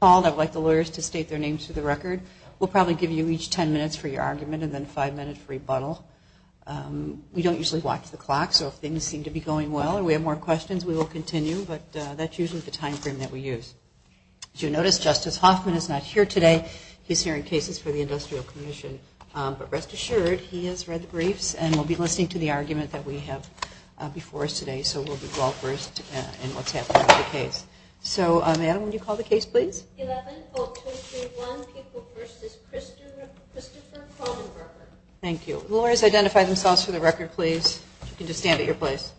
I would like the lawyers to state their names for the record. We'll probably give you each 10 minutes for your argument and then five minutes for rebuttal. We don't usually watch the clock, so if things seem to be going well and we have more questions, we will continue, but that's usually the time frame that we use. As you notice, Justice Hoffman is not here today. He's hearing cases for the Industrial Commission. But rest assured, he has read the briefs and will be listening to the argument that we have before us today, so we'll be well-versed in what's happening with the case. So, ma'am, would you call the case, please? 11-0231, People v. Christopher Kroneberger Thank you. Lawyers, identify themselves for the record, please. You can just stand at your place.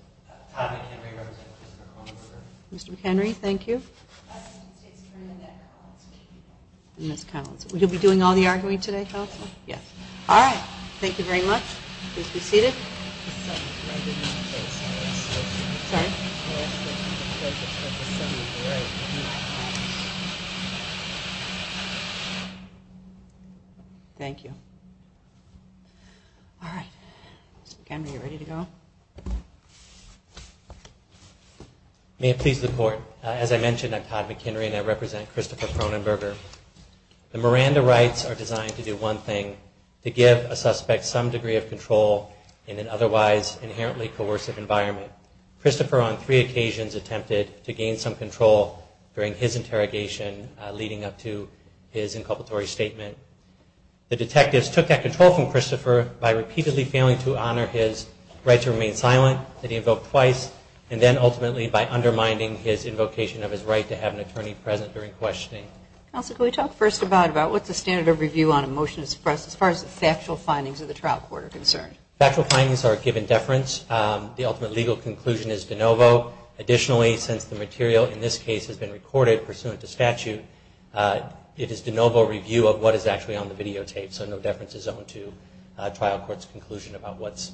Todd McHenry, representing Christopher Kroneberger. Mr. McHenry, thank you. Constance Dix, representing Ms. Collins. Ms. Collins. Will you be doing all the arguing today, counsel? Yes. All right. Thank you very much. Please be seated. Mr. McHenry? Thank you. All right. Mr. McHenry, are you ready to go? May it please the Court, as I mentioned, I'm Todd McHenry and I represent Christopher Kroneberger. The Miranda rights are designed to do one thing, to give a suspect some degree of control in an otherwise inherently coercive environment. Christopher, on three occasions, attempted to gain some control during his interrogation leading up to his inculpatory statement. The detectives took that control from Christopher by repeatedly failing to honor his right to remain silent that he invoked twice, and then ultimately by undermining his invocation of his right to have an attorney present during questioning. Counsel, can we talk first about what the standard of review on a motion is for us, as far as the factual findings of the trial court are concerned? Factual findings are given deference. The ultimate legal conclusion is de novo. Additionally, since the material in this case has been recorded pursuant to statute, it is de novo review of what is actually on the videotape, so no deference is owned to trial court's conclusion about what's.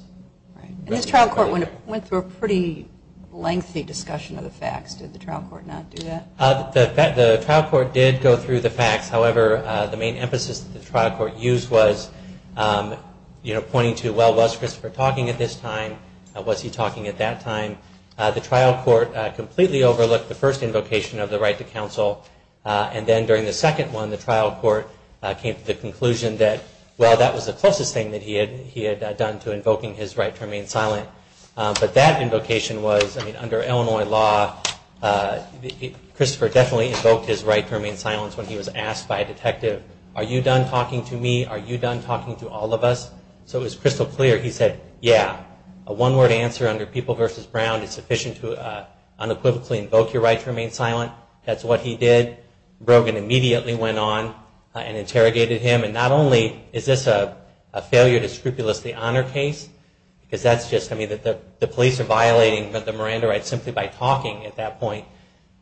And this trial court went through a pretty lengthy discussion of the facts. Did the trial court not do that? The trial court did go through the facts. However, the main emphasis that the trial court used was pointing to, well, was Christopher talking at this time? Was he talking at that time? The trial court completely overlooked the first invocation of the right to counsel, and then during the second one, the trial court came to the conclusion that, well, that was the closest thing that he had done to invoking his right to remain silent. But that invocation was, I mean, under Illinois law, Christopher definitely invoked his right to remain silent when he was asked by a detective, are you done talking to me? Are you done talking to all of us? So it was crystal clear he said, yeah. A one-word answer under People v. Brown is sufficient to unequivocally invoke your right to remain silent. That's what he did. Brogan immediately went on and interrogated him. And not only is this a failure to scrupulously honor case, because that's just, I mean, the police are violating the Miranda rights simply by talking at that point.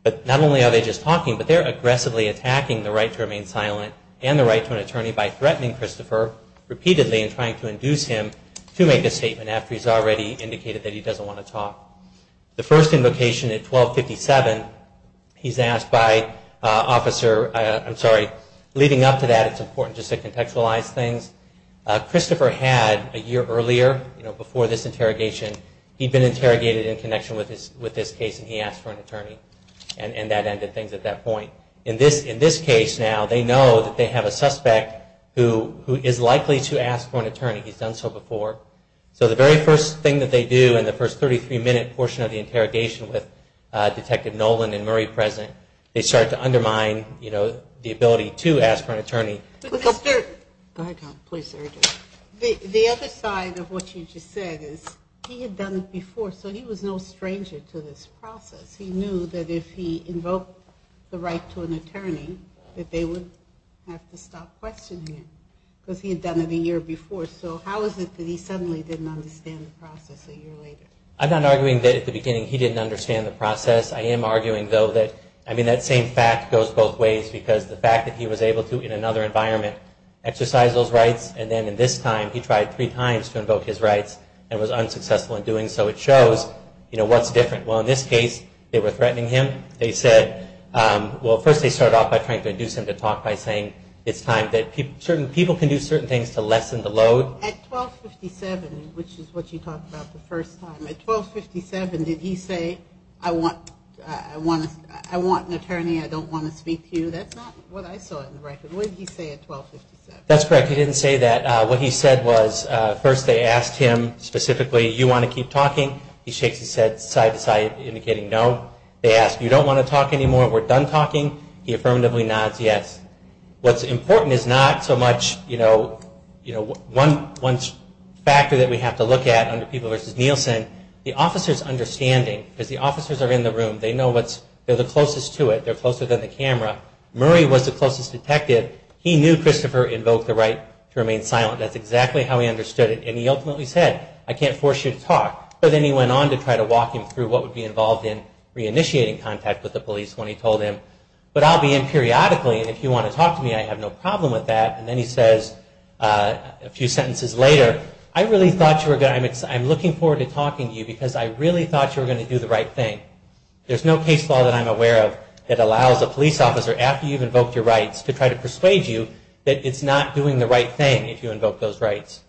But not only are they just talking, but they're aggressively attacking the right to remain silent and the right to an attorney by threatening Christopher repeatedly and trying to induce him to make a statement after he's already indicated that he doesn't want to talk. The first invocation at 1257, he's asked by Officer, I'm sorry, leading up to that, it's important just to contextualize things, Christopher had a year earlier, before this interrogation, he'd been interrogated in connection with this case and he asked for an attorney. And that ended things at that point. In this case now, they know that they have a suspect who is likely to ask for an attorney. He's done so before. So the very first thing that they do in the first 33-minute portion of the interrogation with Detective Nolan and Murray present, they start to undermine the ability to ask for an attorney. The other side of what you just said is he had done it before, so he was no stranger to this process. He knew that if he invoked the right to an attorney, that they would have to stop questioning him because he had done it a year before. So how is it that he suddenly didn't understand the process a year later? I'm not arguing that at the beginning he didn't understand the process. I am arguing, though, that, I mean, that same fact goes both ways because the fact that he was able to in another interrogation exercise those rights, and then in this time he tried three times to invoke his rights and was unsuccessful in doing so. It shows, you know, what's different. Well, in this case, they were threatening him. They said, well, first they started off by trying to induce him to talk by saying it's time that people can do certain things to lessen the load. At 1257, which is what you talked about the first time, at 1257 did he say, I want an attorney, I don't want to speak to you? That's not what I saw in the record. What did he say at 1257? That's correct. He didn't say that. What he said was, first they asked him specifically, you want to keep talking? He shakes his head side to side indicating no. They ask, you don't want to talk anymore, we're done talking? He affirmatively nods yes. What's important is not so much, you know, one factor that we have to look at under people versus Nielsen, the officer's understanding, because the officers are in the room. They know what's, they're the closest to it. They're closer than the camera. Murray was the closest detective. He knew Christopher invoked the right to remain silent. That's exactly how he understood it. And he ultimately said, I can't force you to talk. But then he went on to try to walk him through what would be involved in reinitiating contact with the police when he told him, but I'll be in periodically and if you want to talk to me, I have no problem with that. And then he says a few sentences later, I really thought you were going to, I'm looking forward to talking to you because I really thought you were going to do the right thing. There's no case law that I'm aware of that allows a police officer, after you've invoked your rights, to try to persuade you that it's not doing the right thing if you invoke those rights.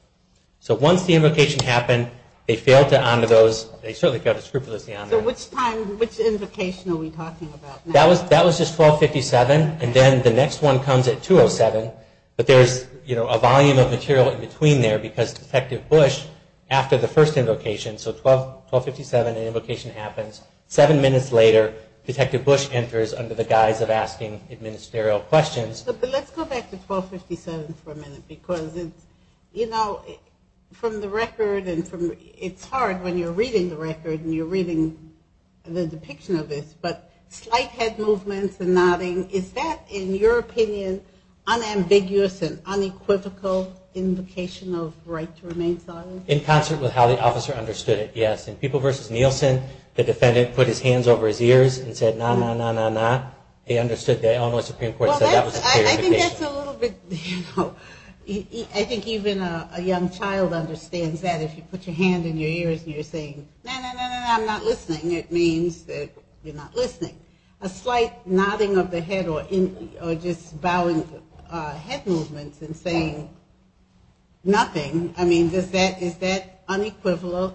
So once the invocation happened, they failed to honor those, they certainly failed to scrupulously honor them. So which time, which invocation are we talking about now? That was just 1257 and then the next one comes at 207, but there's, you know, a volume of material in between there because Detective Bush, after the first invocation, so 1257, the invocation happens, seven minutes later, Detective Bush enters under the guise of asking ministerial questions. But let's go back to 1257 for a minute because it's, you know, from the record and from, it's hard when you're reading the record and you're reading the depiction of this, but slight head movements and nodding, is that, in your opinion, unambiguous and unequivocal invocation of right to remain silent? In concert with how the officer understood it, yes. In People v. Nielsen, the defendant put his hands over his ears and said, nah, nah, nah, nah, nah. He understood that, and the Supreme Court said that was a clarification. I think that's a little bit, you know, I think even a young child understands that if you put your hand in your ears and you're saying, nah, nah, nah, nah, I'm not listening, it means that you're not listening. A slight nodding of the head or just bowing head movements and saying nothing, I mean, is that unequivocal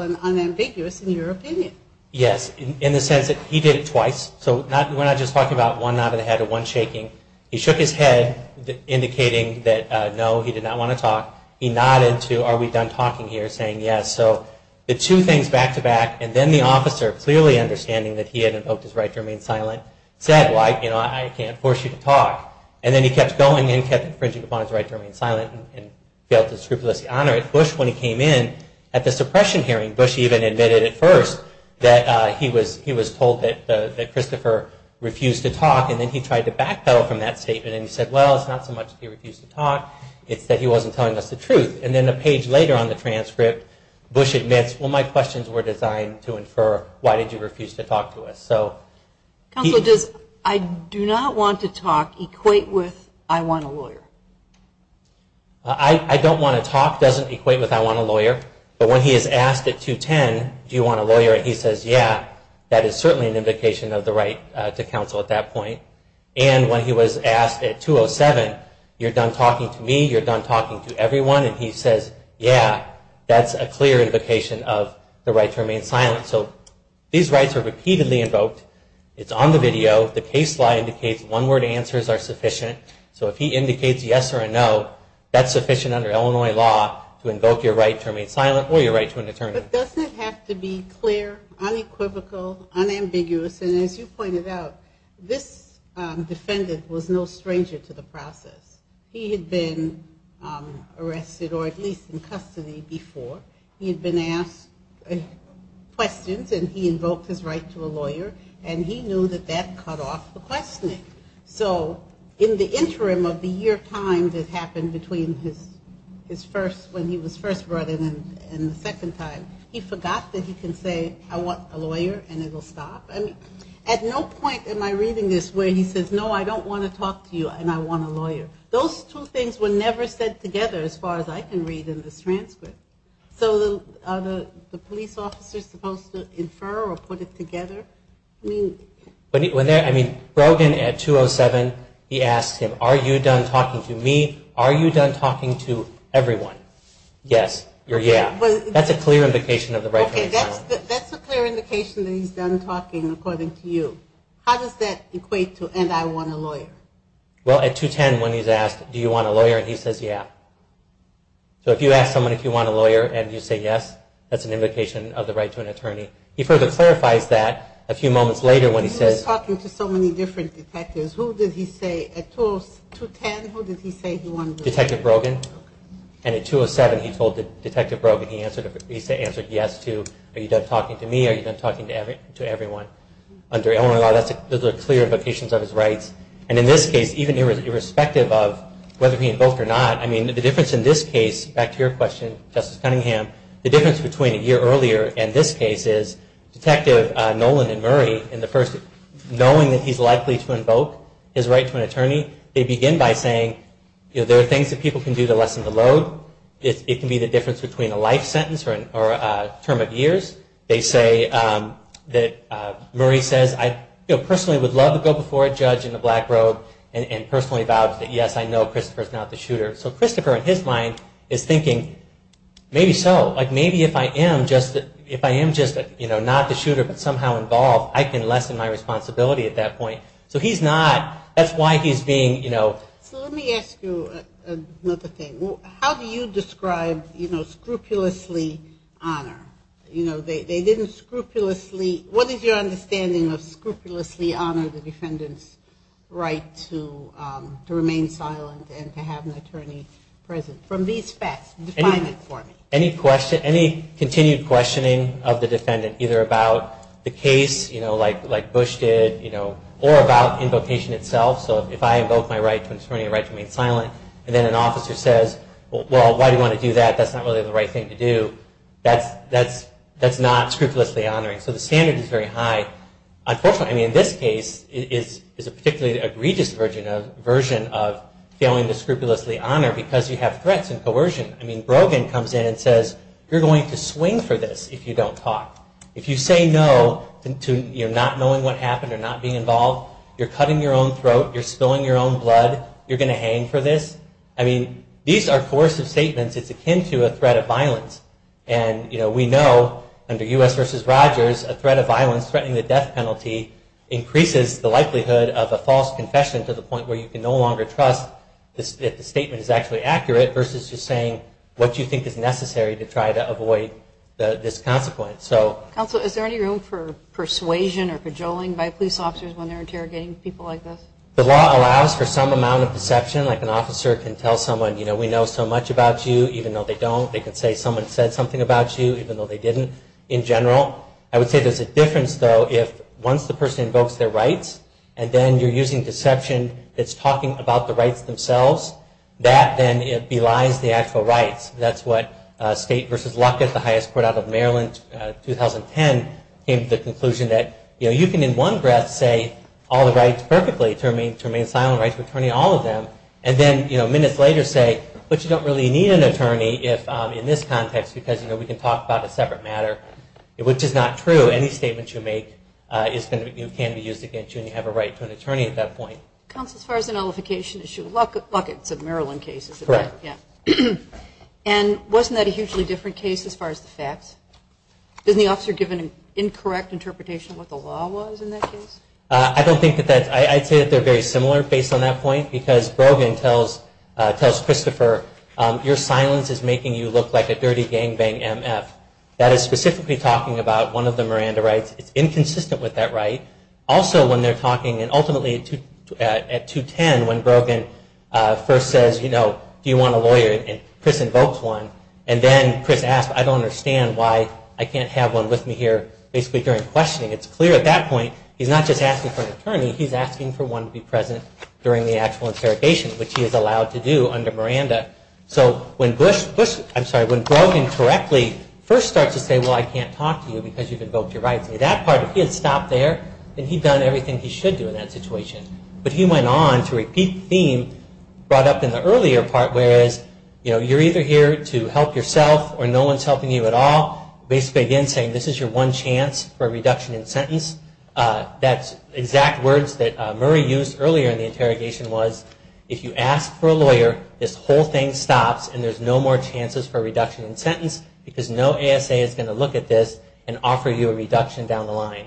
and unambiguous in your opinion? Yes, in the sense that he did it twice. So we're not just talking about one nod of the head or one shaking. He shook his head indicating that no, he did not want to talk. He nodded to, are we done talking here, saying yes. So the two things back to back and then the officer clearly understanding that he had invoked his right to remain silent said, well, you know, I can't force you to talk. And then he kept going and kept infringing upon his right to remain silent and failed to scrupulously honor it. Bush, when he came in, at the suppression hearing, Bush even admitted at first that he was told that Christopher refused to talk, and then he tried to backpedal from that statement and he said, well, it's not so much that he refused to talk, it's that he wasn't telling us the truth. And then a page later on the transcript, Bush admits, well, my questions were designed to infer why did you refuse to talk to us. Counsel, does I do not want to talk equate with I want a lawyer? I don't want to talk doesn't equate with I want a lawyer, but when he is asked at 210, do you want a lawyer, and he says, yeah, that is certainly an invocation of the right to counsel at that point. And when he was asked at 207, you're done talking to me, you're done talking to everyone, and he says, yeah, that's a clear invocation of the right to remain silent. So these rights are repeatedly invoked. It's on the video. The case law indicates one-word answers are sufficient. So if he indicates yes or a no, that's sufficient under Illinois law to invoke your right to remain silent or your right to an attorney. But doesn't it have to be clear, unequivocal, unambiguous, and as you pointed out, this defendant was no stranger to the process. He had been arrested or at least in custody before. He had been asked questions and he invoked his right to a lawyer, and he knew that that cut off the questioning. So in the interim of the year time that happened between his first, when he was first brought in and the second time, he forgot that he can say I want a lawyer and it will stop. At no point am I reading this where he says, no, I don't want to talk to you and I want a lawyer. Those two things were never said together as far as I can read in this transcript. So are the police officers supposed to infer or put it together? I mean, Brogan at 207, he asked him, are you done talking to me? Are you done talking to everyone? Yes or yeah. That's a clear indication of the right to remain silent. Okay, that's a clear indication that he's done talking according to you. How does that equate to and I want a lawyer? Well, at 210 when he's asked, do you want a lawyer, and he says yeah. So if you ask someone if you want a lawyer and you say yes, that's an indication of the right to an attorney. He further clarifies that a few moments later when he says. He was talking to so many different detectives. Who did he say at 210, who did he say he wanted? Detective Brogan. And at 207, he told Detective Brogan, he answered yes to are you done talking to me? Are you done talking to everyone? Those are clear indications of his rights. And in this case, even irrespective of whether he invoked or not, I mean the difference in this case, back to your question, Justice Cunningham, the difference between a year earlier and this case is Detective Nolan and Murray in the first knowing that he's likely to invoke his right to an attorney, they begin by saying there are things that people can do to lessen the load. It can be the difference between a life sentence or a term of years. They say that Murray says I personally would love to go before a judge in a black robe and personally vouch that yes, I know Christopher is not the shooter. So Christopher in his mind is thinking maybe so. Like maybe if I am just not the shooter but somehow involved, I can lessen my responsibility at that point. So he's not. That's why he's being, you know. So let me ask you another thing. How do you describe scrupulously honor? They didn't scrupulously, what is your understanding of scrupulously honor the defendant's right to remain silent and to have an attorney present? From these facts, define it for me. Any continued questioning of the defendant either about the case, you know, like Bush did, you know, or about invocation itself. So if I invoke my right to an attorney, a right to remain silent, and then an officer says, well, why do you want to do that? That's not really the right thing to do. That's not scrupulously honoring. So the standard is very high. Unfortunately, I mean, in this case, it is a particularly egregious version of failing to scrupulously honor because you have threats and coercion. I mean, Brogan comes in and says, you're going to swing for this if you don't talk. If you say no, you're not knowing what happened or not being involved. You're cutting your own throat. You're spilling your own blood. You're going to hang for this. I mean, these are coercive statements. It's akin to a threat of violence. And, you know, we know under U.S. v. Rogers, a threat of violence threatening the death penalty increases the likelihood of a false confession to the point where you can no longer trust if the statement is actually accurate versus just saying what you think is necessary to try to avoid this consequence. Counsel, is there any room for persuasion or cajoling by police officers when they're interrogating people like this? The law allows for some amount of deception. Like an officer can tell someone, you know, we know so much about you, even though they don't. They can say someone said something about you, even though they didn't, in general. I would say there's a difference, though, if once the person invokes their rights and then you're using deception that's talking about the rights themselves, that then belies the actual rights. That's what State v. Luckett, the highest court out of Maryland, 2010, came to the conclusion that, you know, you can in one breath say all the rights perfectly to remain silent rights of attorney, all of them, and then, you know, minutes later say, but you don't really need an attorney in this context because, you know, we can talk about a separate matter, which is not true. Any statement you make can be used against you and you have a right to an attorney at that point. Counsel, as far as the nullification issue, Luckett's a Maryland case. Correct. Yeah. And wasn't that a hugely different case as far as the facts? Isn't the officer given an incorrect interpretation of what the law was in that case? I don't think that that's – I'd say that they're very similar based on that point because Brogan tells Christopher, your silence is making you look like a dirty gangbang MF. That is specifically talking about one of the Miranda rights. It's inconsistent with that right. Also, when they're talking, and ultimately at 210, when Brogan first says, you know, do you want a lawyer, and Chris invokes one, and then Chris asks, I don't understand why I can't have one with me here, basically during questioning. It's clear at that point he's not just asking for an attorney, he's asking for one to be present during the actual interrogation, which he is allowed to do under Miranda. So when Brogan correctly first starts to say, well, I can't talk to you because you've invoked your rights, that part, if he had stopped there, then he'd done everything he should do in that situation. But he went on to repeat the theme brought up in the earlier part, whereas you're either here to help yourself or no one's helping you at all, basically again saying this is your one chance for a reduction in sentence. That exact words that Murray used earlier in the interrogation was, if you ask for a lawyer, this whole thing stops and there's no more chances for a reduction in sentence because no ASA is going to look at this and offer you a reduction down the line.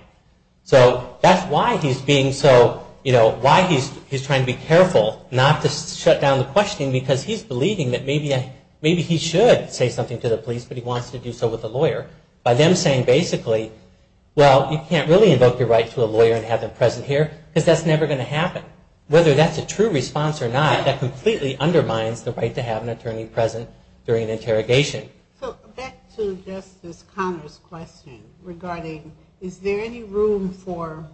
So that's why he's being so, you know, why he's trying to be careful not to shut down the questioning because he's believing that maybe he should say something to the police, but he wants to do so with a lawyer. By them saying basically, well, you can't really invoke your right to a lawyer and have them present here because that's never going to happen. Whether that's a true response or not, that completely undermines the right to have an attorney present during an interrogation. So back to Justice Conner's question regarding, is there any room for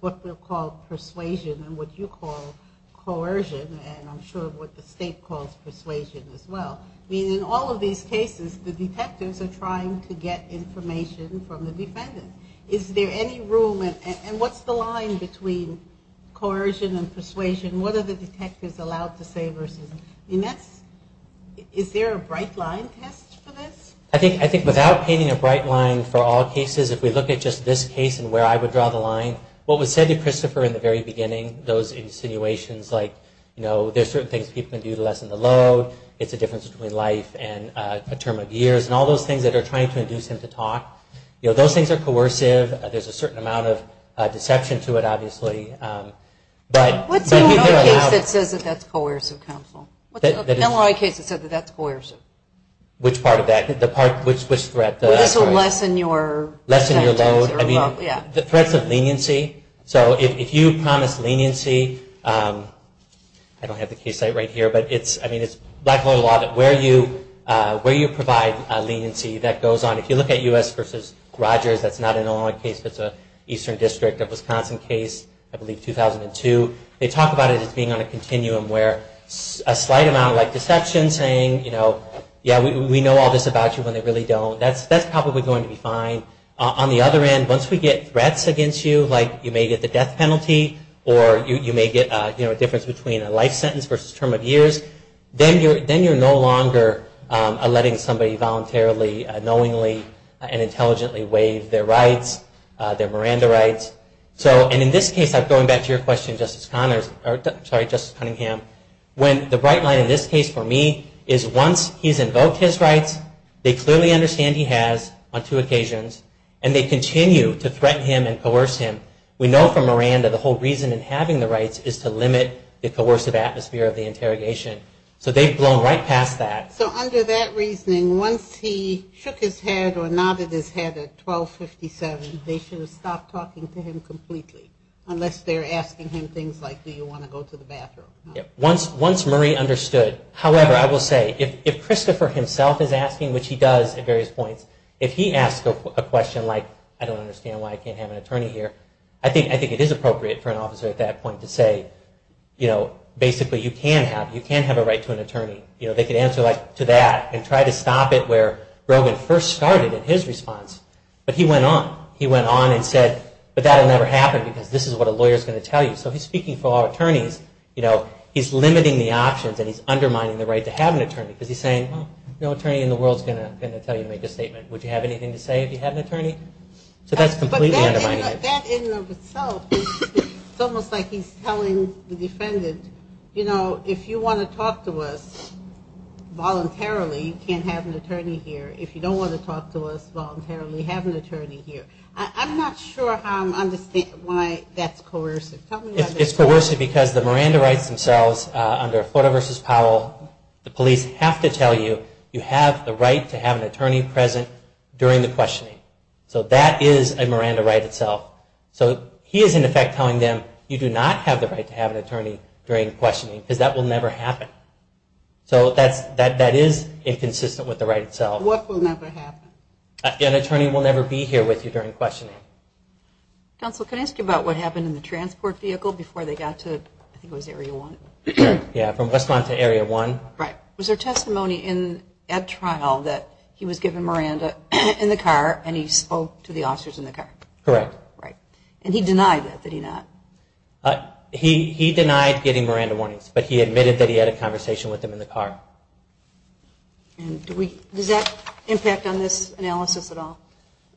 what we'll call persuasion and what you call coercion and I'm sure what the state calls persuasion as well. I mean, in all of these cases, the detectives are trying to get information from the defendant. Is there any room and what's the line between coercion and persuasion? What are the detectives allowed to say versus? Is there a bright line test for this? I think without painting a bright line for all cases, if we look at just this case and where I would draw the line, what was said to Christopher in the very beginning, those insinuations like, you know, there's certain things people can do to lessen the load, it's a difference between life and a term of years and all those things that are trying to induce him to talk. You know, those things are coercive. There's a certain amount of deception to it, obviously. What's the only case that says that that's coercive, counsel? What's the only case that says that that's coercive? Which part of that? Which threat? This will lessen your... Lessen your load. I mean, the threats of leniency. So if you promise leniency, I don't have the case site right here, but it's, I mean, it's black and white law that where you provide leniency, that goes on. If you look at U.S. versus Rogers, that's not an Illinois case, that's an Eastern District of Wisconsin case, I believe 2002. They talk about it as being on a continuum where a slight amount, like deception saying, you know, yeah, we know all this about you when they really don't. That's probably going to be fine. On the other end, once we get threats against you, like you may get the death penalty or you may get a difference between a life sentence versus term of years, then you're no longer letting somebody voluntarily, knowingly, and intelligently waive their rights, their Miranda rights. And in this case, going back to your question, Justice Conningham, when the bright light in this case for me is once he's invoked his rights, they clearly understand he has on two occasions, and they continue to threaten him and coerce him. We know from Miranda the whole reason in having the rights is to limit the coercive atmosphere of the interrogation. So they've blown right past that. So under that reasoning, once he shook his head or nodded his head at 1257, they should have stopped talking to him completely, unless they're asking him things like, do you want to go to the bathroom? Once Murray understood. However, I will say, if Christopher himself is asking, which he does at various points, if he asks a question like, I don't understand why I can't have an attorney here, I think it is appropriate for an officer at that point to say, basically, you can have a right to an attorney. They can answer to that and try to stop it where Brogan first started in his response. But he went on. He went on and said, but that will never happen, because this is what a lawyer is going to tell you. So he's speaking for all attorneys. He's limiting the options, and he's undermining the right to have an attorney, Would you have anything to say if you had an attorney? So that's completely undermining it. But that in and of itself is almost like he's telling the defendant, you know, if you want to talk to us voluntarily, you can't have an attorney here. If you don't want to talk to us voluntarily, have an attorney here. I'm not sure how I understand why that's coercive. It's coercive because the Miranda rights themselves under Florida v. Powell, the police have to tell you, you have the right to have an attorney present during the questioning. So that is a Miranda right itself. So he is, in effect, telling them, you do not have the right to have an attorney during questioning, because that will never happen. So that is inconsistent with the right itself. What will never happen? An attorney will never be here with you during questioning. Counsel, can I ask you about what happened in the transport vehicle before they got to, I think it was Area 1. Yeah, from West Lawn to Area 1. Right. Was there testimony at trial that he was given Miranda in the car, and he spoke to the officers in the car? Right. And he denied that, did he not? He denied getting Miranda warnings, but he admitted that he had a conversation with them in the car. And does that impact on this analysis at all?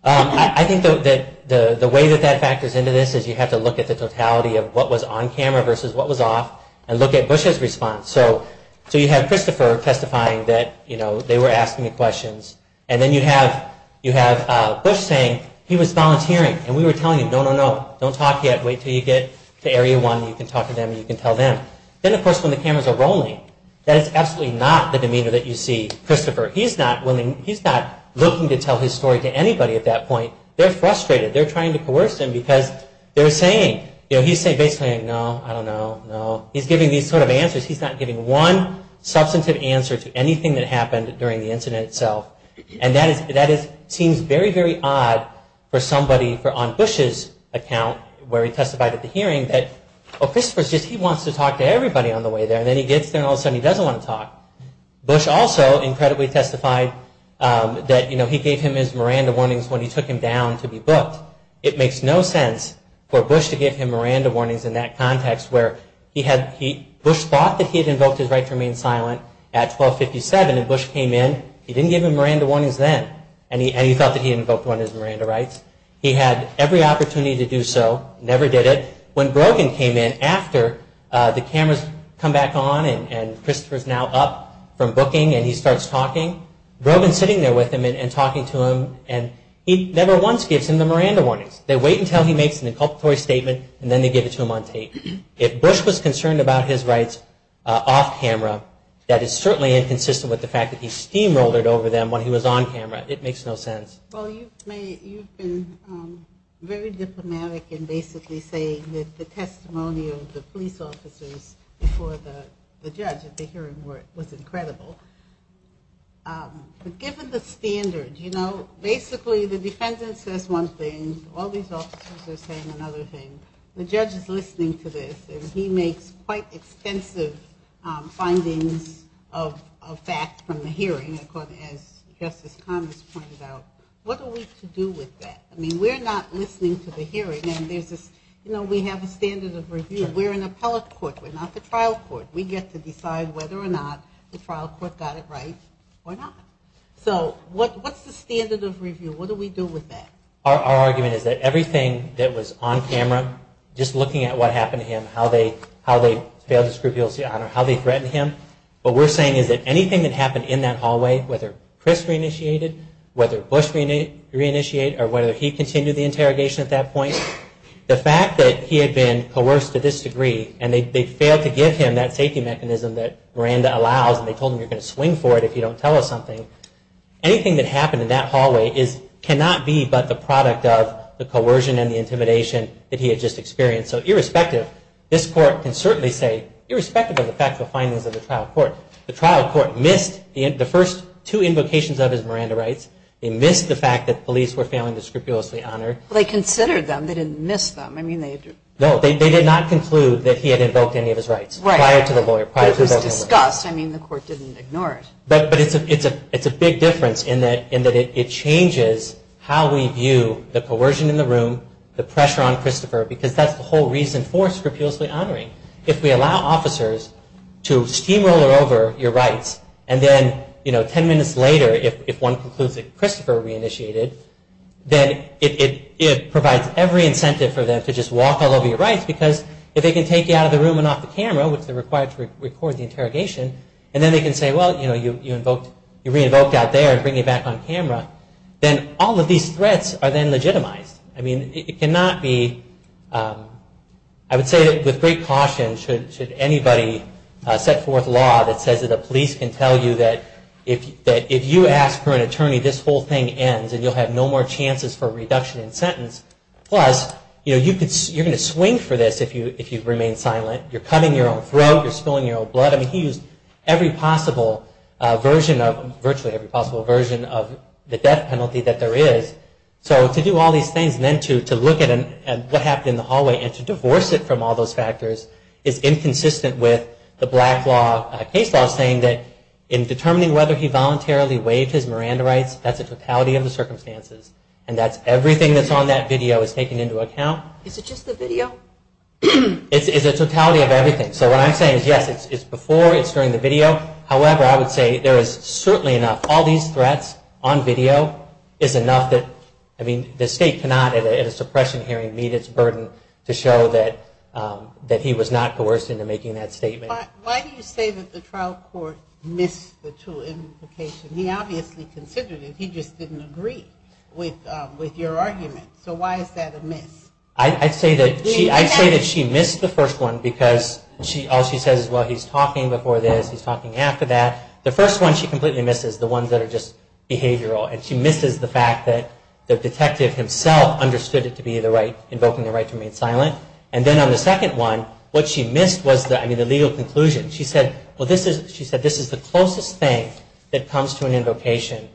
I think that the way that that factors into this is you have to look at the totality of what was on camera versus what was off, and look at Bush's response. So you have Christopher testifying that they were asking the questions, and then you have Bush saying he was volunteering, and we were telling him, no, no, no, don't talk yet. Wait until you get to Area 1, and you can talk to them, and you can tell them. Then, of course, when the cameras are rolling, that is absolutely not the demeanor that you see Christopher. He is not looking to tell his story to anybody at that point. They are frustrated. They are trying to coerce him, because they are saying, you know, he is saying basically, no, I don't know, no. He is giving these sort of answers. He is not giving one substantive answer to anything that happened during the incident itself. And that seems very, very odd for somebody on Bush's account, where he testified at the hearing that, oh, Christopher is just, he wants to talk to everybody on the way there. And then he gets there, and all of a sudden he doesn't want to talk. Bush also incredibly testified that, you know, he gave him his Miranda warnings when he took him down to be booked. It makes no sense for Bush to give him Miranda warnings in that context, where Bush thought that he had invoked his right to remain silent at 1257, and Bush came in. He didn't give him Miranda warnings then, and he thought that he had invoked one of his Miranda rights. He had every opportunity to do so, never did it. When Brogan came in, after the cameras come back on, and Christopher is now up from booking, and he starts talking, Brogan is sitting there with him and talking to him, and he never once gives him the Miranda warnings. They wait until he makes an inculpatory statement, and then they give it to him on tape. If Bush was concerned about his rights off camera, that is certainly inconsistent with the fact that he steamrolled it over them when he was on camera. It makes no sense. Well, you've been very diplomatic in basically saying that the testimony of the police officers before the judge at the hearing was incredible. But given the standard, you know, basically the defendant says one thing, all these officers are saying another thing. The judge is listening to this, and he makes quite extensive findings of fact from the hearing, as Justice Connors pointed out. What are we to do with that? I mean, we're not listening to the hearing, and there's this, you know, we have a standard of review. We're an appellate court. We're not the trial court. We get to decide whether or not the trial court got it right or not. So what's the standard of review? What do we do with that? Our argument is that everything that was on camera, just looking at what happened to him, how they failed to scruple his honor, how they threatened him. What we're saying is that anything that happened in that hallway, whether Chris reinitiated, whether Bush reinitiated, or whether he continued the interrogation at that point, the fact that he had been coerced to this degree, and they failed to give him that safety mechanism that Miranda allows, and they told him you're going to swing for it if you don't tell us something, anything that happened in that hallway cannot be but the product of the coercion and the intimidation that he had just experienced. So irrespective, this court can certainly say, irrespective of the fact of the findings of the trial court, the trial court missed the first two invocations of his Miranda rights. They missed the fact that police were failing to scrupulously honor. They considered them. They didn't miss them. They did not conclude that he had invoked any of his rights prior to the lawyer. It was discussed. The court didn't ignore it. But it's a big difference in that it changes how we view the coercion in the room, the pressure on Christopher, because that's the whole reason for scrupulously honoring. If we allow officers to steamroller over your rights, and then 10 minutes later if one concludes that Christopher reinitiated, then it provides every incentive for them to just walk all over your rights, because if they can take you out of the room and off the camera, which they're required to record the interrogation, and then they can say, well, you know, you invoked, you re-invoked out there and bring you back on camera, then all of these threats are then legitimized. I mean, it cannot be, I would say that with great caution should anybody set forth law that says that the police can tell you that if you ask for an exemption, you have no more chances for reduction in sentence. Plus, you know, you're going to swing for this if you remain silent. You're cutting your own throat. You're spilling your own blood. I mean, he used every possible version of, virtually every possible version of the death penalty that there is. So to do all these things and then to look at what happened in the hallway and to divorce it from all those factors is inconsistent with the black law case law saying that in determining whether he voluntarily waived his sentences, and that's everything that's on that video is taken into account. Is it just the video? It's a totality of everything. So what I'm saying is, yes, it's before, it's during the video. However, I would say there is certainly enough, all these threats on video is enough that, I mean, the State cannot at a suppression hearing meet its burden to show that he was not coerced into making that statement. Why do you say that the trial court missed the two implications? He obviously considered it. He just didn't agree with your argument. So why is that a miss? I'd say that she missed the first one because all she says is, well, he's talking before this, he's talking after that. The first one she completely misses, the ones that are just behavioral, and she misses the fact that the detective himself understood it to be the right, invoking the right to remain silent. And then on the second one, what she missed was the, I mean, the legal conclusion. She said, well, this is, she said, this is the closest thing that comes to an invocation.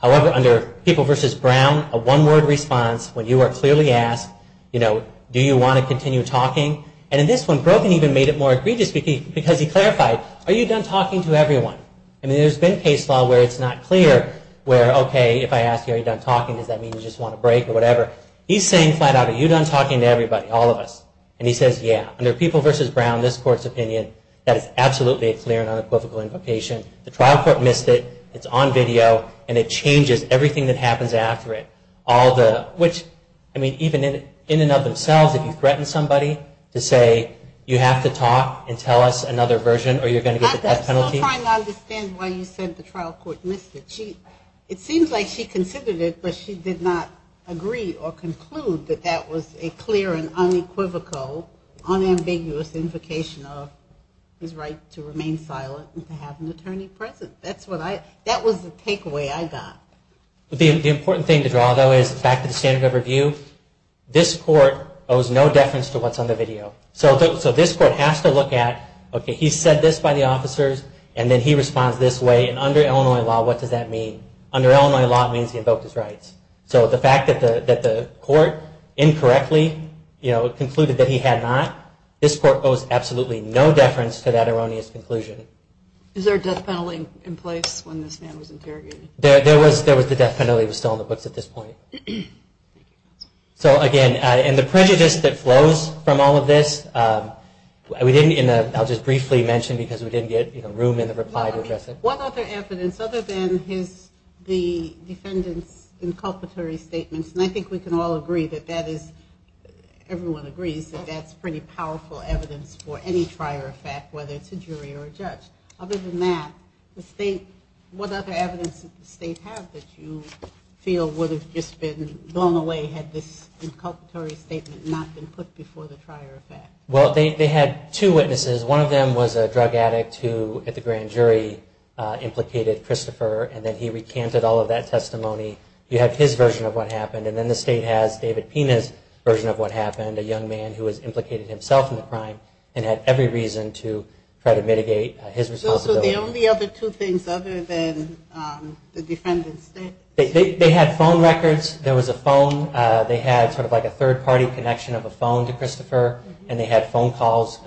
However, under People v. Brown, a one-word response, when you are clearly asked, you know, do you want to continue talking? And in this one, Brogan even made it more egregious because he clarified, are you done talking to everyone? I mean, there's been case law where it's not clear where, okay, if I ask you, are you done talking, does that mean you just want a break or whatever? He's saying flat out, are you done talking to everybody, all of us? And he says, yeah. Now, under People v. Brown, this Court's opinion, that is absolutely a clear and unequivocal invocation. The trial court missed it. It's on video, and it changes everything that happens after it. All the, which, I mean, even in and of themselves, if you threaten somebody to say you have to talk and tell us another version or you're going to get the death penalty. I'm still trying to understand why you said the trial court missed it. It seems like she considered it, but she did not agree or conclude that that was a clear and unequivocal, unambiguous invocation of his right to remain silent and to have an attorney present. That's what I, that was the takeaway I got. The important thing to draw, though, is back to the standard of review. This Court owes no deference to what's on the video. So this Court has to look at, okay, he said this by the officers, and then he responds this way. And under Illinois law, what does that mean? Under Illinois law, it means he invoked his rights. So the fact that the Court incorrectly concluded that he had not, this Court owes absolutely no deference to that erroneous conclusion. Is there a death penalty in place when this man was interrogated? There was the death penalty. It was still in the books at this point. So, again, and the prejudice that flows from all of this, we didn't, and I'll just briefly mention because we didn't get room in the reply to address it. One other evidence other than his, the defendant's inculpatory statements, and I think we can all agree that that is, everyone agrees that that's pretty powerful evidence for any trier of fact, whether it's a jury or a judge. Other than that, the State, what other evidence did the State have that you feel would have just been blown away had this inculpatory statement not been put before the trier of fact? Well, they had two witnesses. One of them was a drug addict who, at the grand jury, implicated Christopher, and then he recanted all of that testimony. You had his version of what happened, and then the State has David Pina's version of what happened, a young man who has implicated himself in the crime and had every reason to try to mitigate his responsibility. So those were the only other two things other than the defendant's statement? They had phone records. There was a phone. They had sort of like a third-party connection of a phone to Christopher, and they had phone calls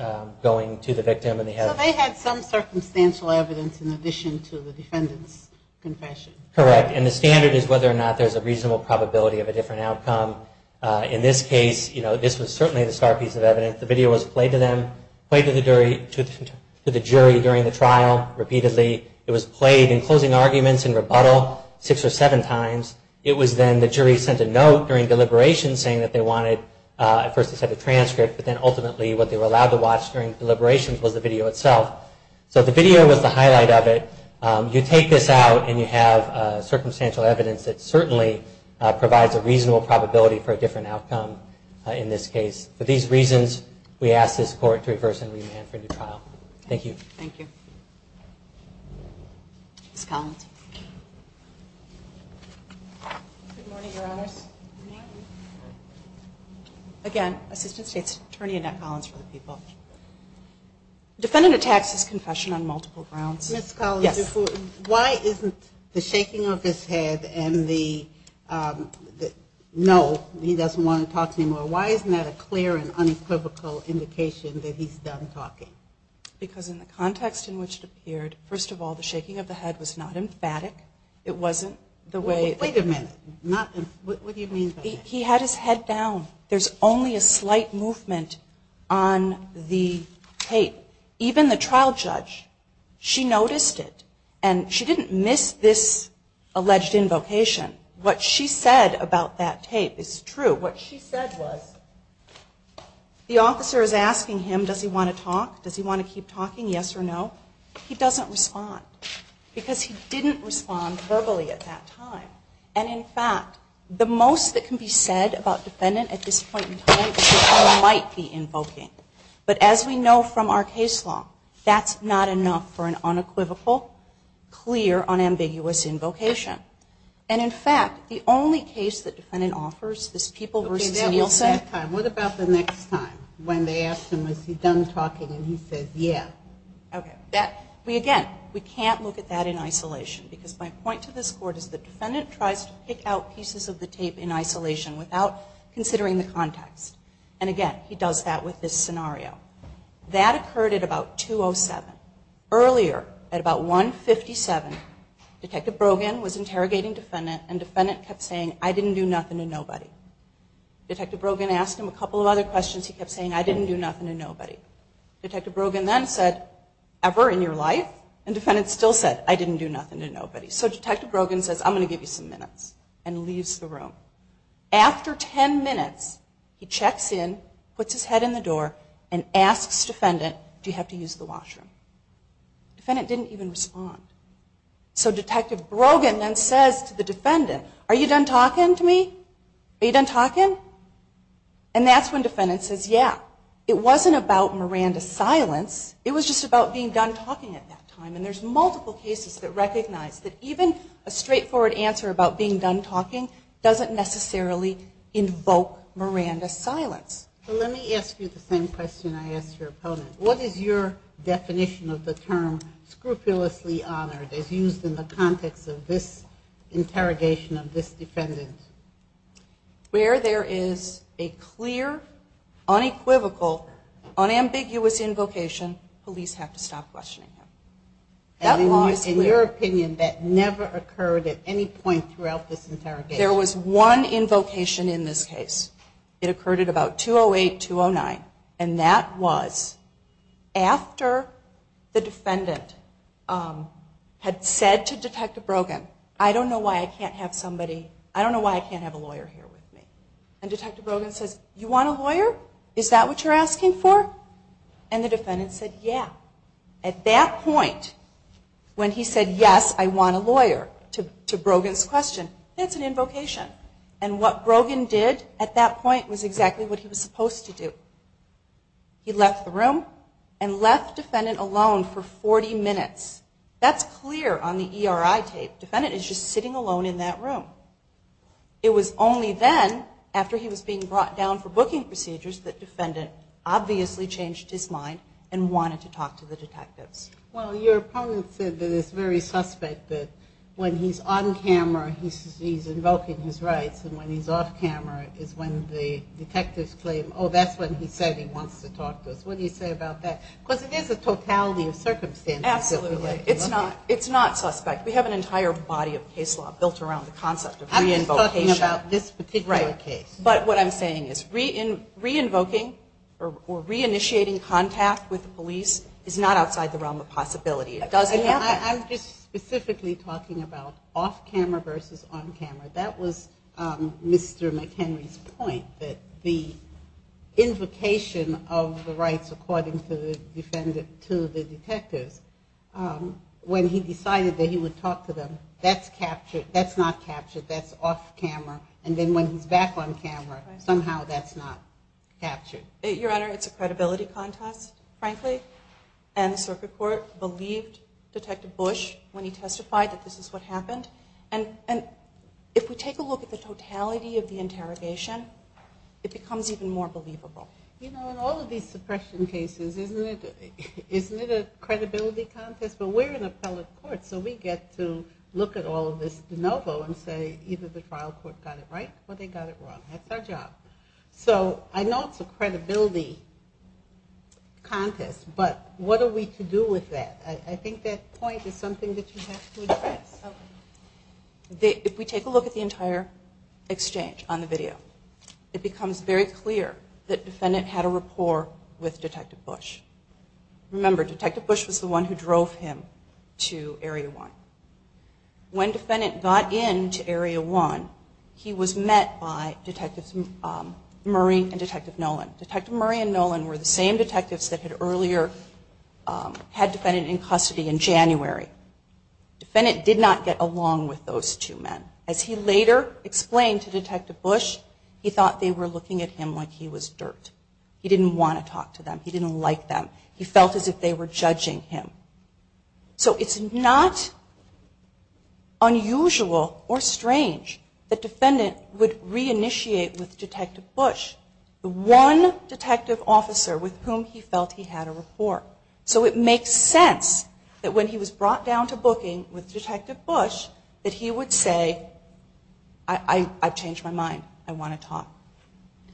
going to the victim. So they had some circumstantial evidence in addition to the defendant's confession? Correct, and the standard is whether or not there's a reasonable probability of a different outcome. In this case, this was certainly the star piece of evidence. The video was played to them, played to the jury during the trial repeatedly. It was played in closing arguments and rebuttal six or seven times. It was then the jury sent a note during deliberation saying that they wanted a transcript, but then ultimately what they were allowed to watch during deliberations was the video itself. So the video was the highlight of it. You take this out and you have circumstantial evidence that certainly provides a reasonable probability for a different outcome in this case. For these reasons, we ask this Court to reverse and remand for a new trial. Thank you. Thank you. Ms. Collins. Good morning, Your Honors. Good morning. Again, Assistant State's Attorney Annette Collins for the people. Defendant attacks his confession on multiple grounds. Ms. Collins, why isn't the shaking of his head and the no, he doesn't want to talk anymore, why isn't that a clear and unequivocal indication that he's done talking? Because in the context in which it appeared, first of all, the shaking of the head was not emphatic. It wasn't the way. Wait a minute. What do you mean by that? He had his head down. There's only a slight movement on the tape. Even the trial judge, she noticed it, and she didn't miss this alleged invocation. What she said about that tape is true. What she said was the officer is asking him, does he want to talk? Does he want to keep talking, yes or no? He doesn't respond because he didn't respond verbally at that time. And, in fact, the most that can be said about defendant at this point in time is that he might be invoking. But as we know from our case law, that's not enough for an unequivocal, clear, unambiguous invocation. And, in fact, the only case that defendant offers is People v. Nielsen. Okay, that was that time. What about the next time when they asked him, was he done talking, and he said, yeah. Again, we can't look at that in isolation because my point to this court is the defendant tries to pick out pieces of the tape in isolation without considering the context. And, again, he does that with this scenario. That occurred at about 2.07. Earlier, at about 1.57, Detective Brogan was interrogating defendant, and defendant kept saying, I didn't do nothing to nobody. Detective Brogan asked him a couple of other questions. He kept saying, I didn't do nothing to nobody. Detective Brogan then said, ever in your life? And defendant still said, I didn't do nothing to nobody. So Detective Brogan says, I'm going to give you some minutes, and leaves the room. After 10 minutes, he checks in, puts his head in the door, and asks defendant, do you have to use the washroom? Defendant didn't even respond. So Detective Brogan then says to the defendant, are you done talking to me? Are you done talking? And that's when defendant says, yeah. It wasn't about Miranda's silence. It was just about being done talking at that time. And there's multiple cases that recognize that even a straightforward answer about being done talking doesn't necessarily invoke Miranda's silence. Let me ask you the same question I asked your opponent. What is your definition of the term scrupulously honored as used in the context of this interrogation of this defendant? Where there is a clear, unequivocal, unambiguous invocation, police have to stop questioning him. In your opinion, that never occurred at any point throughout this interrogation? There was one invocation in this case. It occurred at about 2-08, 2-09. And that was after the defendant had said to Detective Brogan, I don't know why I can't have somebody, I don't know why I can't have a lawyer here with me. And Detective Brogan says, you want a lawyer? Is that what you're asking for? And the defendant said, yeah. At that point, when he said, yes, I want a lawyer, to Brogan's question, that's an invocation. And what Brogan did at that point was exactly what he was supposed to do. He left the room and left defendant alone for 40 minutes. That's clear on the ERI tape. Defendant is just sitting alone in that room. It was only then, after he was being brought down for booking procedures, that defendant obviously changed his mind and wanted to talk to the detectives. Well, your opponent said that it's very suspect that when he's on camera, he's invoking his rights, and when he's off camera, is when the detectives claim, oh, that's when he said he wants to talk to us. What do you say about that? Because it is a totality of circumstances. Absolutely. It's not suspect. We have an entire body of case law built around the concept of re-invocation. I'm talking about this particular case. But what I'm saying is re-invoking or re-initiating contact with the police is not outside the realm of possibility. It doesn't happen. I'm just specifically talking about off camera versus on camera. That was Mr. McHenry's point, that the invocation of the rights according to the detectives, when he decided that he would talk to them, that's captured. That's not captured. That's off camera. And then when he's back on camera, somehow that's not captured. Your Honor, it's a credibility contest, frankly. And the circuit court believed Detective Bush when he testified that this is what happened. And if we take a look at the totality of the interrogation, it becomes even more believable. You know, in all of these suppression cases, isn't it a credibility contest? But we're an appellate court, so we get to look at all of this de novo and say either the trial court got it right or they got it wrong. That's our job. So I know it's a credibility contest, but what are we to do with that? I think that point is something that you have to address. If we take a look at the entire exchange on the video, it becomes very clear that Defendant had a rapport with Detective Bush. Remember, Detective Bush was the one who drove him to Area 1. When Defendant got into Area 1, he was met by Detectives Murray and Detective Nolan. Detective Murray and Nolan were the same detectives that had earlier had Defendant in custody in January. Defendant did not get along with those two men. As he later explained to Detective Bush, he thought they were looking at him like he was dirt. He didn't want to talk to them. He didn't like them. He felt as if they were judging him. So it's not unusual or strange that Defendant would reinitiate with Detective Bush, the one detective officer with whom he felt he had a rapport. So it makes sense that when he was brought down to booking with Detective Bush, that he would say, I've changed my mind. I want to talk.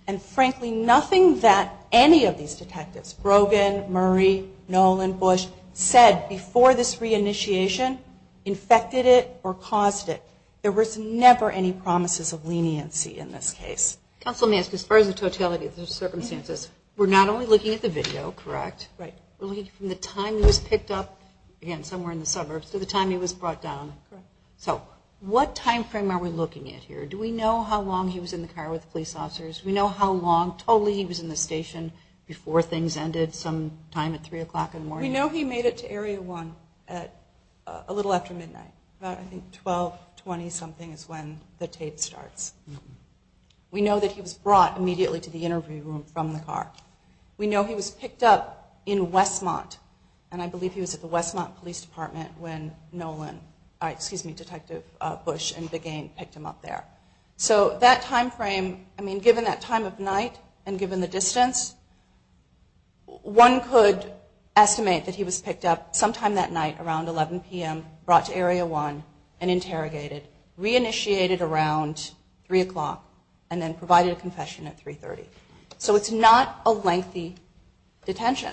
And frankly, nothing that any of these detectives, Brogan, Murray, Nolan, Bush, said before this reinitiation infected it or caused it. There was never any promises of leniency in this case. Counsel, as far as the totality of the circumstances, we're not only looking at the video, correct? Right. We're looking from the time he was picked up, again, somewhere in the suburbs, to the time he was brought down. Correct. So what time frame are we looking at here? Do we know how long he was in the car with the police officers? Do we know how long totally he was in the station before things ended, sometime at 3 o'clock in the morning? We know he made it to Area 1 a little after midnight, about I think 12, 20-something is when the tape starts. We know that he was brought immediately to the interview room from the car. We know he was picked up in Westmont, and I believe he was at the Westmont Police Department when Nolan, excuse me, Detective Bush and Big Ain picked him up there. So that time frame, I mean, given that time of night and given the distance, one could estimate that he was picked up sometime that night around 11 p.m., brought to Area 1 and interrogated, reinitiated around 3 o'clock, and then provided a confession at 3.30. So it's not a lengthy detention.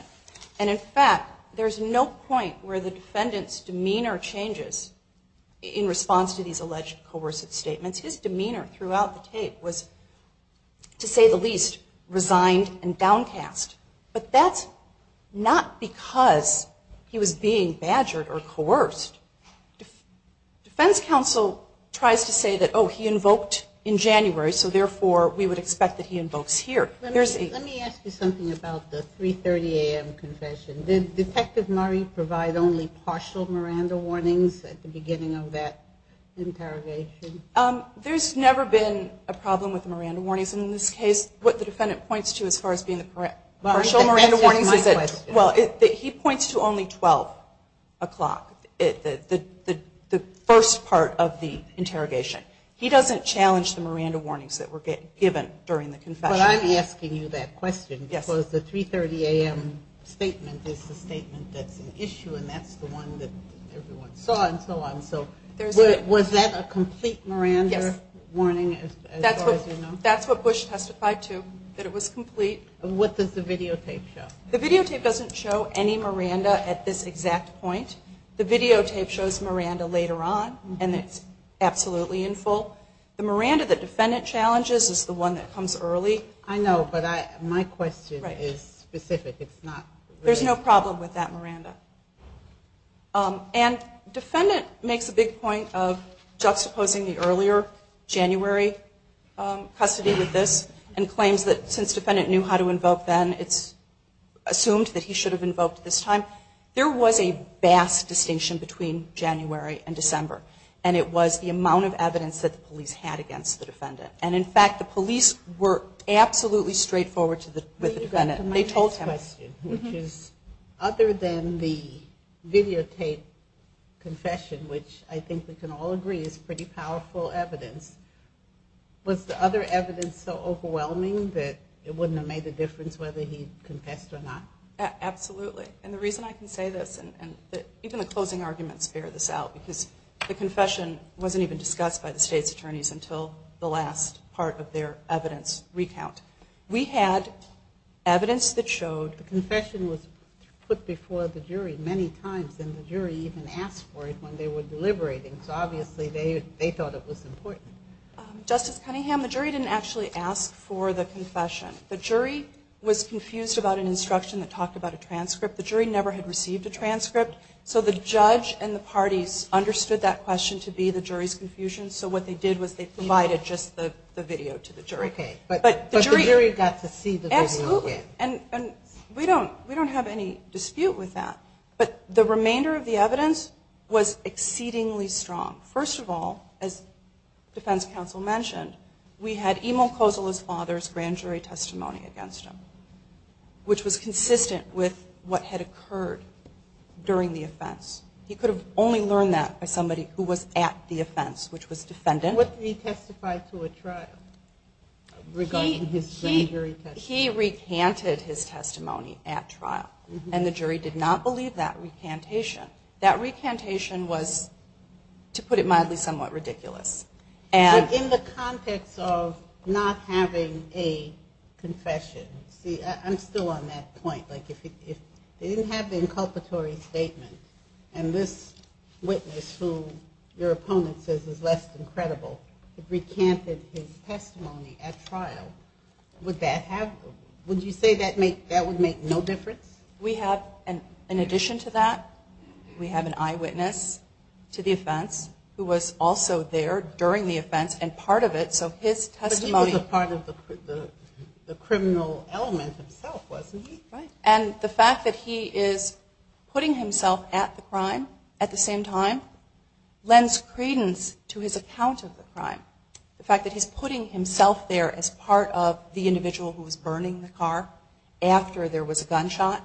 And, in fact, there's no point where the defendant's demeanor changes in response to these alleged coercive statements. His demeanor throughout the tape was, to say the least, resigned and downcast. But that's not because he was being badgered or coerced. Defense counsel tries to say that, oh, he invoked in January, so therefore we would expect that he invokes here. Let me ask you something about the 3.30 a.m. confession. Did Detective Murray provide only partial Miranda warnings at the beginning of that interrogation? There's never been a problem with the Miranda warnings. And in this case, what the defendant points to as far as being the correct partial Miranda warnings is that he points to only 12 o'clock, the first part of the interrogation. He doesn't challenge the Miranda warnings that were given during the confession. But I'm asking you that question because the 3.30 a.m. statement is the statement that's an issue, and that's the one that everyone saw and so on. So was that a complete Miranda warning as far as you know? That's what Bush testified to, that it was complete. What does the videotape show? The videotape doesn't show any Miranda at this exact point. The videotape shows Miranda later on, and it's absolutely in full. The Miranda that defendant challenges is the one that comes early. I know, but my question is specific. There's no problem with that Miranda. And defendant makes a big point of juxtaposing the earlier January custody with this and claims that since defendant knew how to invoke then, it's assumed that he should have invoked this time. There was a vast distinction between January and December, and it was the amount of evidence that the police had against the defendant. And, in fact, the police were absolutely straightforward with the defendant. Other than the videotape confession, which I think we can all agree is pretty powerful evidence, was the other evidence so overwhelming that it wouldn't have made a difference whether he confessed or not? Absolutely. And the reason I can say this, and even the closing arguments bear this out, because the confession wasn't even discussed by the state's attorneys until the last part of their evidence recount. We had evidence that showed the confession was put before the jury many times, and the jury even asked for it when they were deliberating, so obviously they thought it was important. Justice Cunningham, the jury didn't actually ask for the confession. The jury was confused about an instruction that talked about a transcript. The jury never had received a transcript, so the judge and the parties understood that question to be the jury's confusion, so what they did was they provided just the video to the jury. Okay. But the jury got to see the video again. Absolutely. And we don't have any dispute with that. But the remainder of the evidence was exceedingly strong. First of all, as defense counsel mentioned, we had Imo Kosala's father's grand jury testimony against him, which was consistent with what had occurred during the offense. He could have only learned that by somebody who was at the offense, which was defendant. What did he testify to at trial regarding his grand jury testimony? He recanted his testimony at trial, and the jury did not believe that recantation. That recantation was, to put it mildly, somewhat ridiculous. So in the context of not having a confession, see, I'm still on that point. Like if they didn't have the inculpatory statement, and this witness who your opponent says is less than credible recanted his testimony at trial, would you say that would make no difference? We have, in addition to that, we have an eyewitness to the offense who was also there during the offense and part of it. So his testimony. But he was a part of the criminal element himself, wasn't he? Right. And the fact that he is putting himself at the crime at the same time lends credence to his account of the crime. The fact that he's putting himself there as part of the individual who was burning the car after there was a gunshot,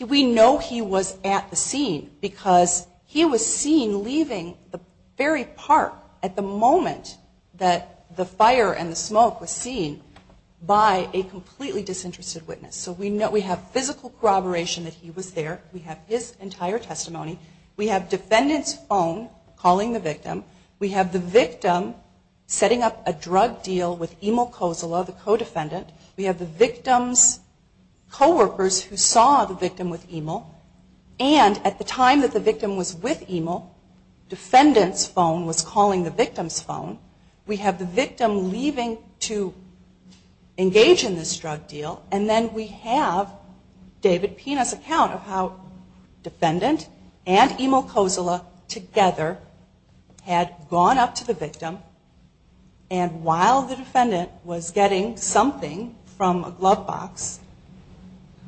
we know he was at the scene because he was seen leaving the very park at the moment that the fire and the smoke was seen by a completely disinterested witness. So we know we have physical corroboration that he was there. We have his entire testimony. We have defendants' phone calling the victim. We have the victim setting up a drug deal with Emil Kozula, the co-defendant. We have the victim's coworkers who saw the victim with Emil. And at the time that the victim was with Emil, defendant's phone was calling the victim's phone. We have the victim leaving to engage in this drug deal, and then we have David Pina's account of how defendant and Emil Kozula together had gone up to the victim and while the defendant was getting something from a glove box,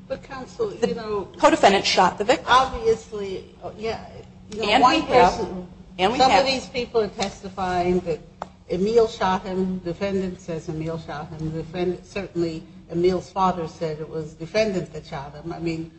the co-defendant shot the victim. Some of these people are testifying that Emil shot him. Defendant says Emil shot him. Certainly Emil's father said it was defendant that shot him.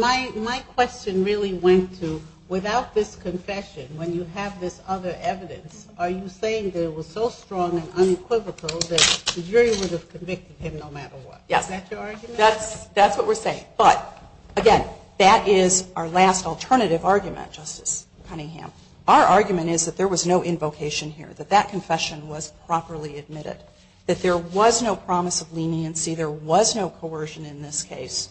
My question really went to, without this confession, when you have this other evidence, are you saying that it was so strong and unequivocal that the jury would have convicted him no matter what? Yes. Is that your argument? That's what we're saying. But again, that is our last alternative argument, Justice Cunningham. Our argument is that there was no invocation here, that that confession was properly admitted, that there was no promise of leniency, there was no coercion in this case.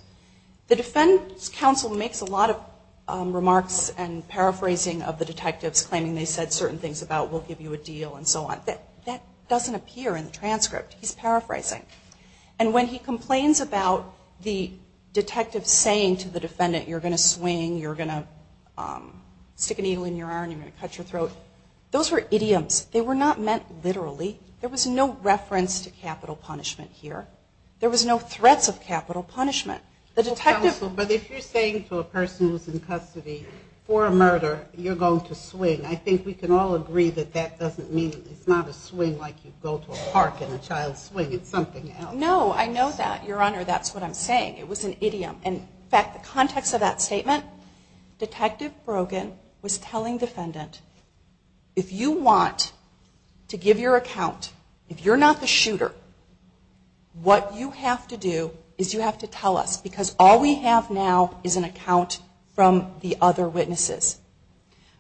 The defense counsel makes a lot of remarks and paraphrasing of the detectives claiming they said certain things about we'll give you a deal and so on. That doesn't appear in the transcript. He's paraphrasing. And when he complains about the detective saying to the defendant, you're going to swing, you're going to stick a needle in your arm, you're going to cut your throat, those were idioms. They were not meant literally. There was no reference to capital punishment here. There was no threats of capital punishment. But if you're saying to a person who's in custody for a murder, you're going to swing, I think we can all agree that that doesn't mean it's not a swing like you go to a park and a child swings. It's something else. No, I know that, Your Honor. That's what I'm saying. It was an idiom. In fact, the context of that statement, Detective Brogan was telling defendant, if you want to give your account, if you're not the shooter, what you have to do is you have to tell us because all we have now is an account from the other witnesses.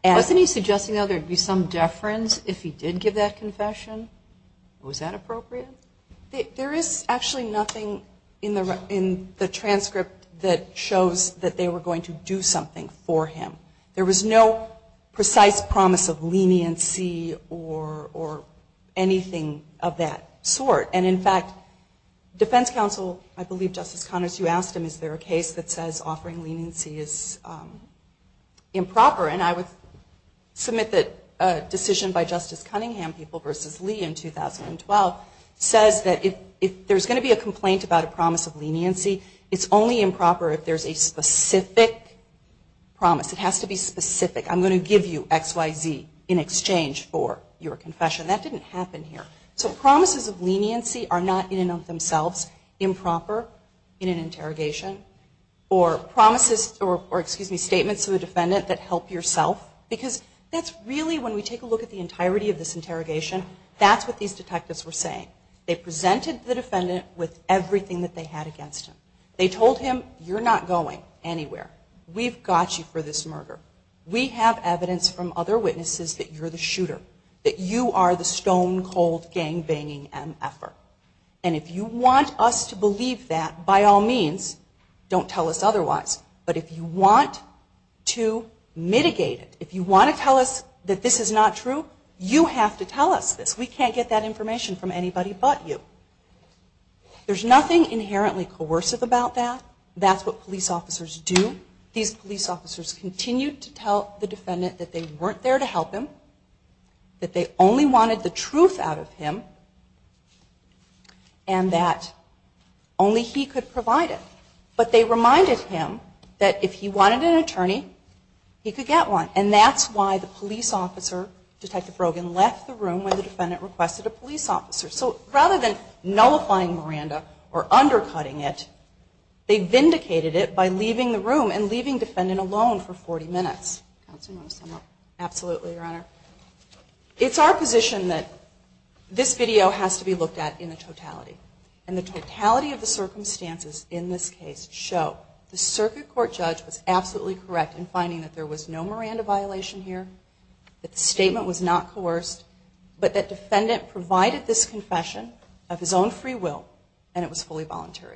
Wasn't he suggesting, though, there would be some deference if he did give that confession? Was that appropriate? There is actually nothing in the transcript that shows that they were going to do something for him. There was no precise promise of leniency or anything of that sort. And, in fact, defense counsel, I believe Justice Connors, you asked him, is there a case that says offering leniency is improper? And I would submit that a decision by Justice Cunningham, People v. Lee in 2012, says that if there's going to be a complaint about a promise of leniency, it's only improper if there's a specific promise. It has to be specific. I'm going to give you X, Y, Z in exchange for your confession. That didn't happen here. So promises of leniency are not in and of themselves improper in an interrogation or statements to the defendant that help yourself because that's really, when we take a look at the entirety of this interrogation, that's what these detectives were saying. They presented the defendant with everything that they had against him. They told him, you're not going anywhere. We've got you for this murder. We have evidence from other witnesses that you're the shooter, that you are the stone-cold gang-banging MF-er. And if you want us to believe that, by all means, don't tell us otherwise. But if you want to mitigate it, if you want to tell us that this is not true, you have to tell us this. We can't get that information from anybody but you. There's nothing inherently coercive about that. That's what police officers do. These police officers continued to tell the defendant that they weren't there to help him, that they only wanted the truth out of him, and that only he could provide it. But they reminded him that if he wanted an attorney, he could get one. And that's why the police officer, Detective Brogan, left the room when the defendant requested a police officer. So rather than nullifying Miranda or undercutting it, they vindicated it by leaving the room and leaving the defendant alone for 40 minutes. Counsel, do you want to sum up? Absolutely, Your Honor. It's our position that this video has to be looked at in the totality. And the totality of the circumstances in this case show the circuit court judge was absolutely correct in finding that there was no Miranda violation here, that the statement was not coerced, but that defendant provided this confession of his own free will and it was fully voluntary.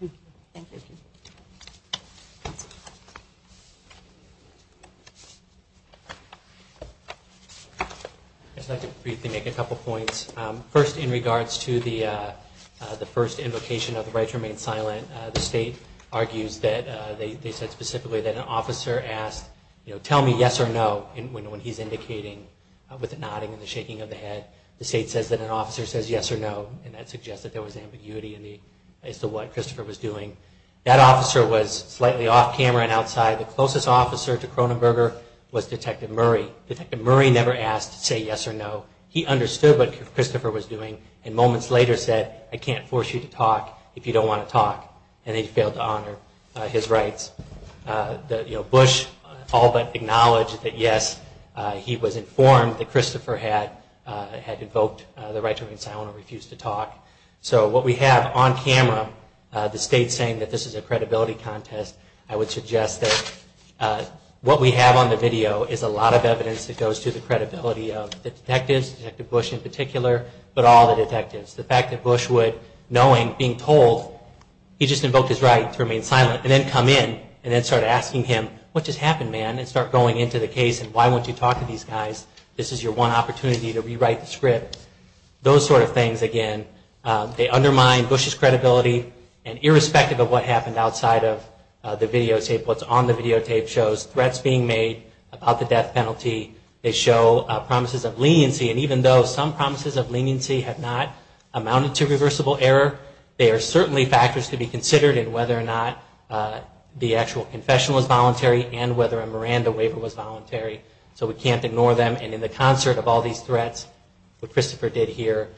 Thank you. Thank you. I'd just like to briefly make a couple points. First, in regards to the first invocation of the right to remain silent, the State argues that they said specifically that an officer asked, you know, tell me yes or no when he's indicating with the nodding and the shaking of the head. The State says that an officer says yes or no, and that suggests that there was ambiguity as to what Christopher was doing. That officer was slightly off camera and outside. The closest officer to Cronenberger was Detective Murray. Detective Murray never asked to say yes or no. He understood what Christopher was doing and moments later said, I can't force you to talk if you don't want to talk. And he failed to honor his rights. You know, Bush all but acknowledged that yes, he was informed that Christopher had invoked the right to remain silent and refused to talk. So what we have on camera, the State saying that this is a credibility contest, I would suggest that what we have on the video is a lot of evidence that goes to the credibility of the detectives, Detective Bush in particular, but all the detectives. The fact that Bush would, knowing, being told, he just invoked his right to remain silent and then come in and then start asking him, what just happened, man? And start going into the case and why won't you talk to these guys? This is your one opportunity to rewrite the script. Those sort of things, again, they undermine Bush's credibility. And irrespective of what happened outside of the videotape, what's on the videotape shows threats being made about the death penalty. They show promises of leniency. And even though some promises of leniency have not amounted to reversible error, they are certainly factors to be considered in whether or not the actual confession was voluntary and whether a Miranda waiver was voluntary. So we can't ignore them. And in the concert of all these threats, what Christopher did here,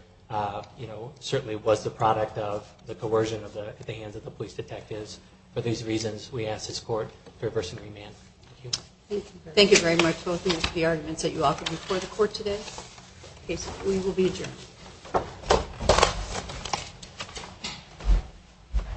you know, certainly was the product of the coercion at the hands of the police detectives. For these reasons, we ask this Court for a person to remain. Thank you. Thank you very much both of you for the arguments that you offered before the Court today. We will be adjourned.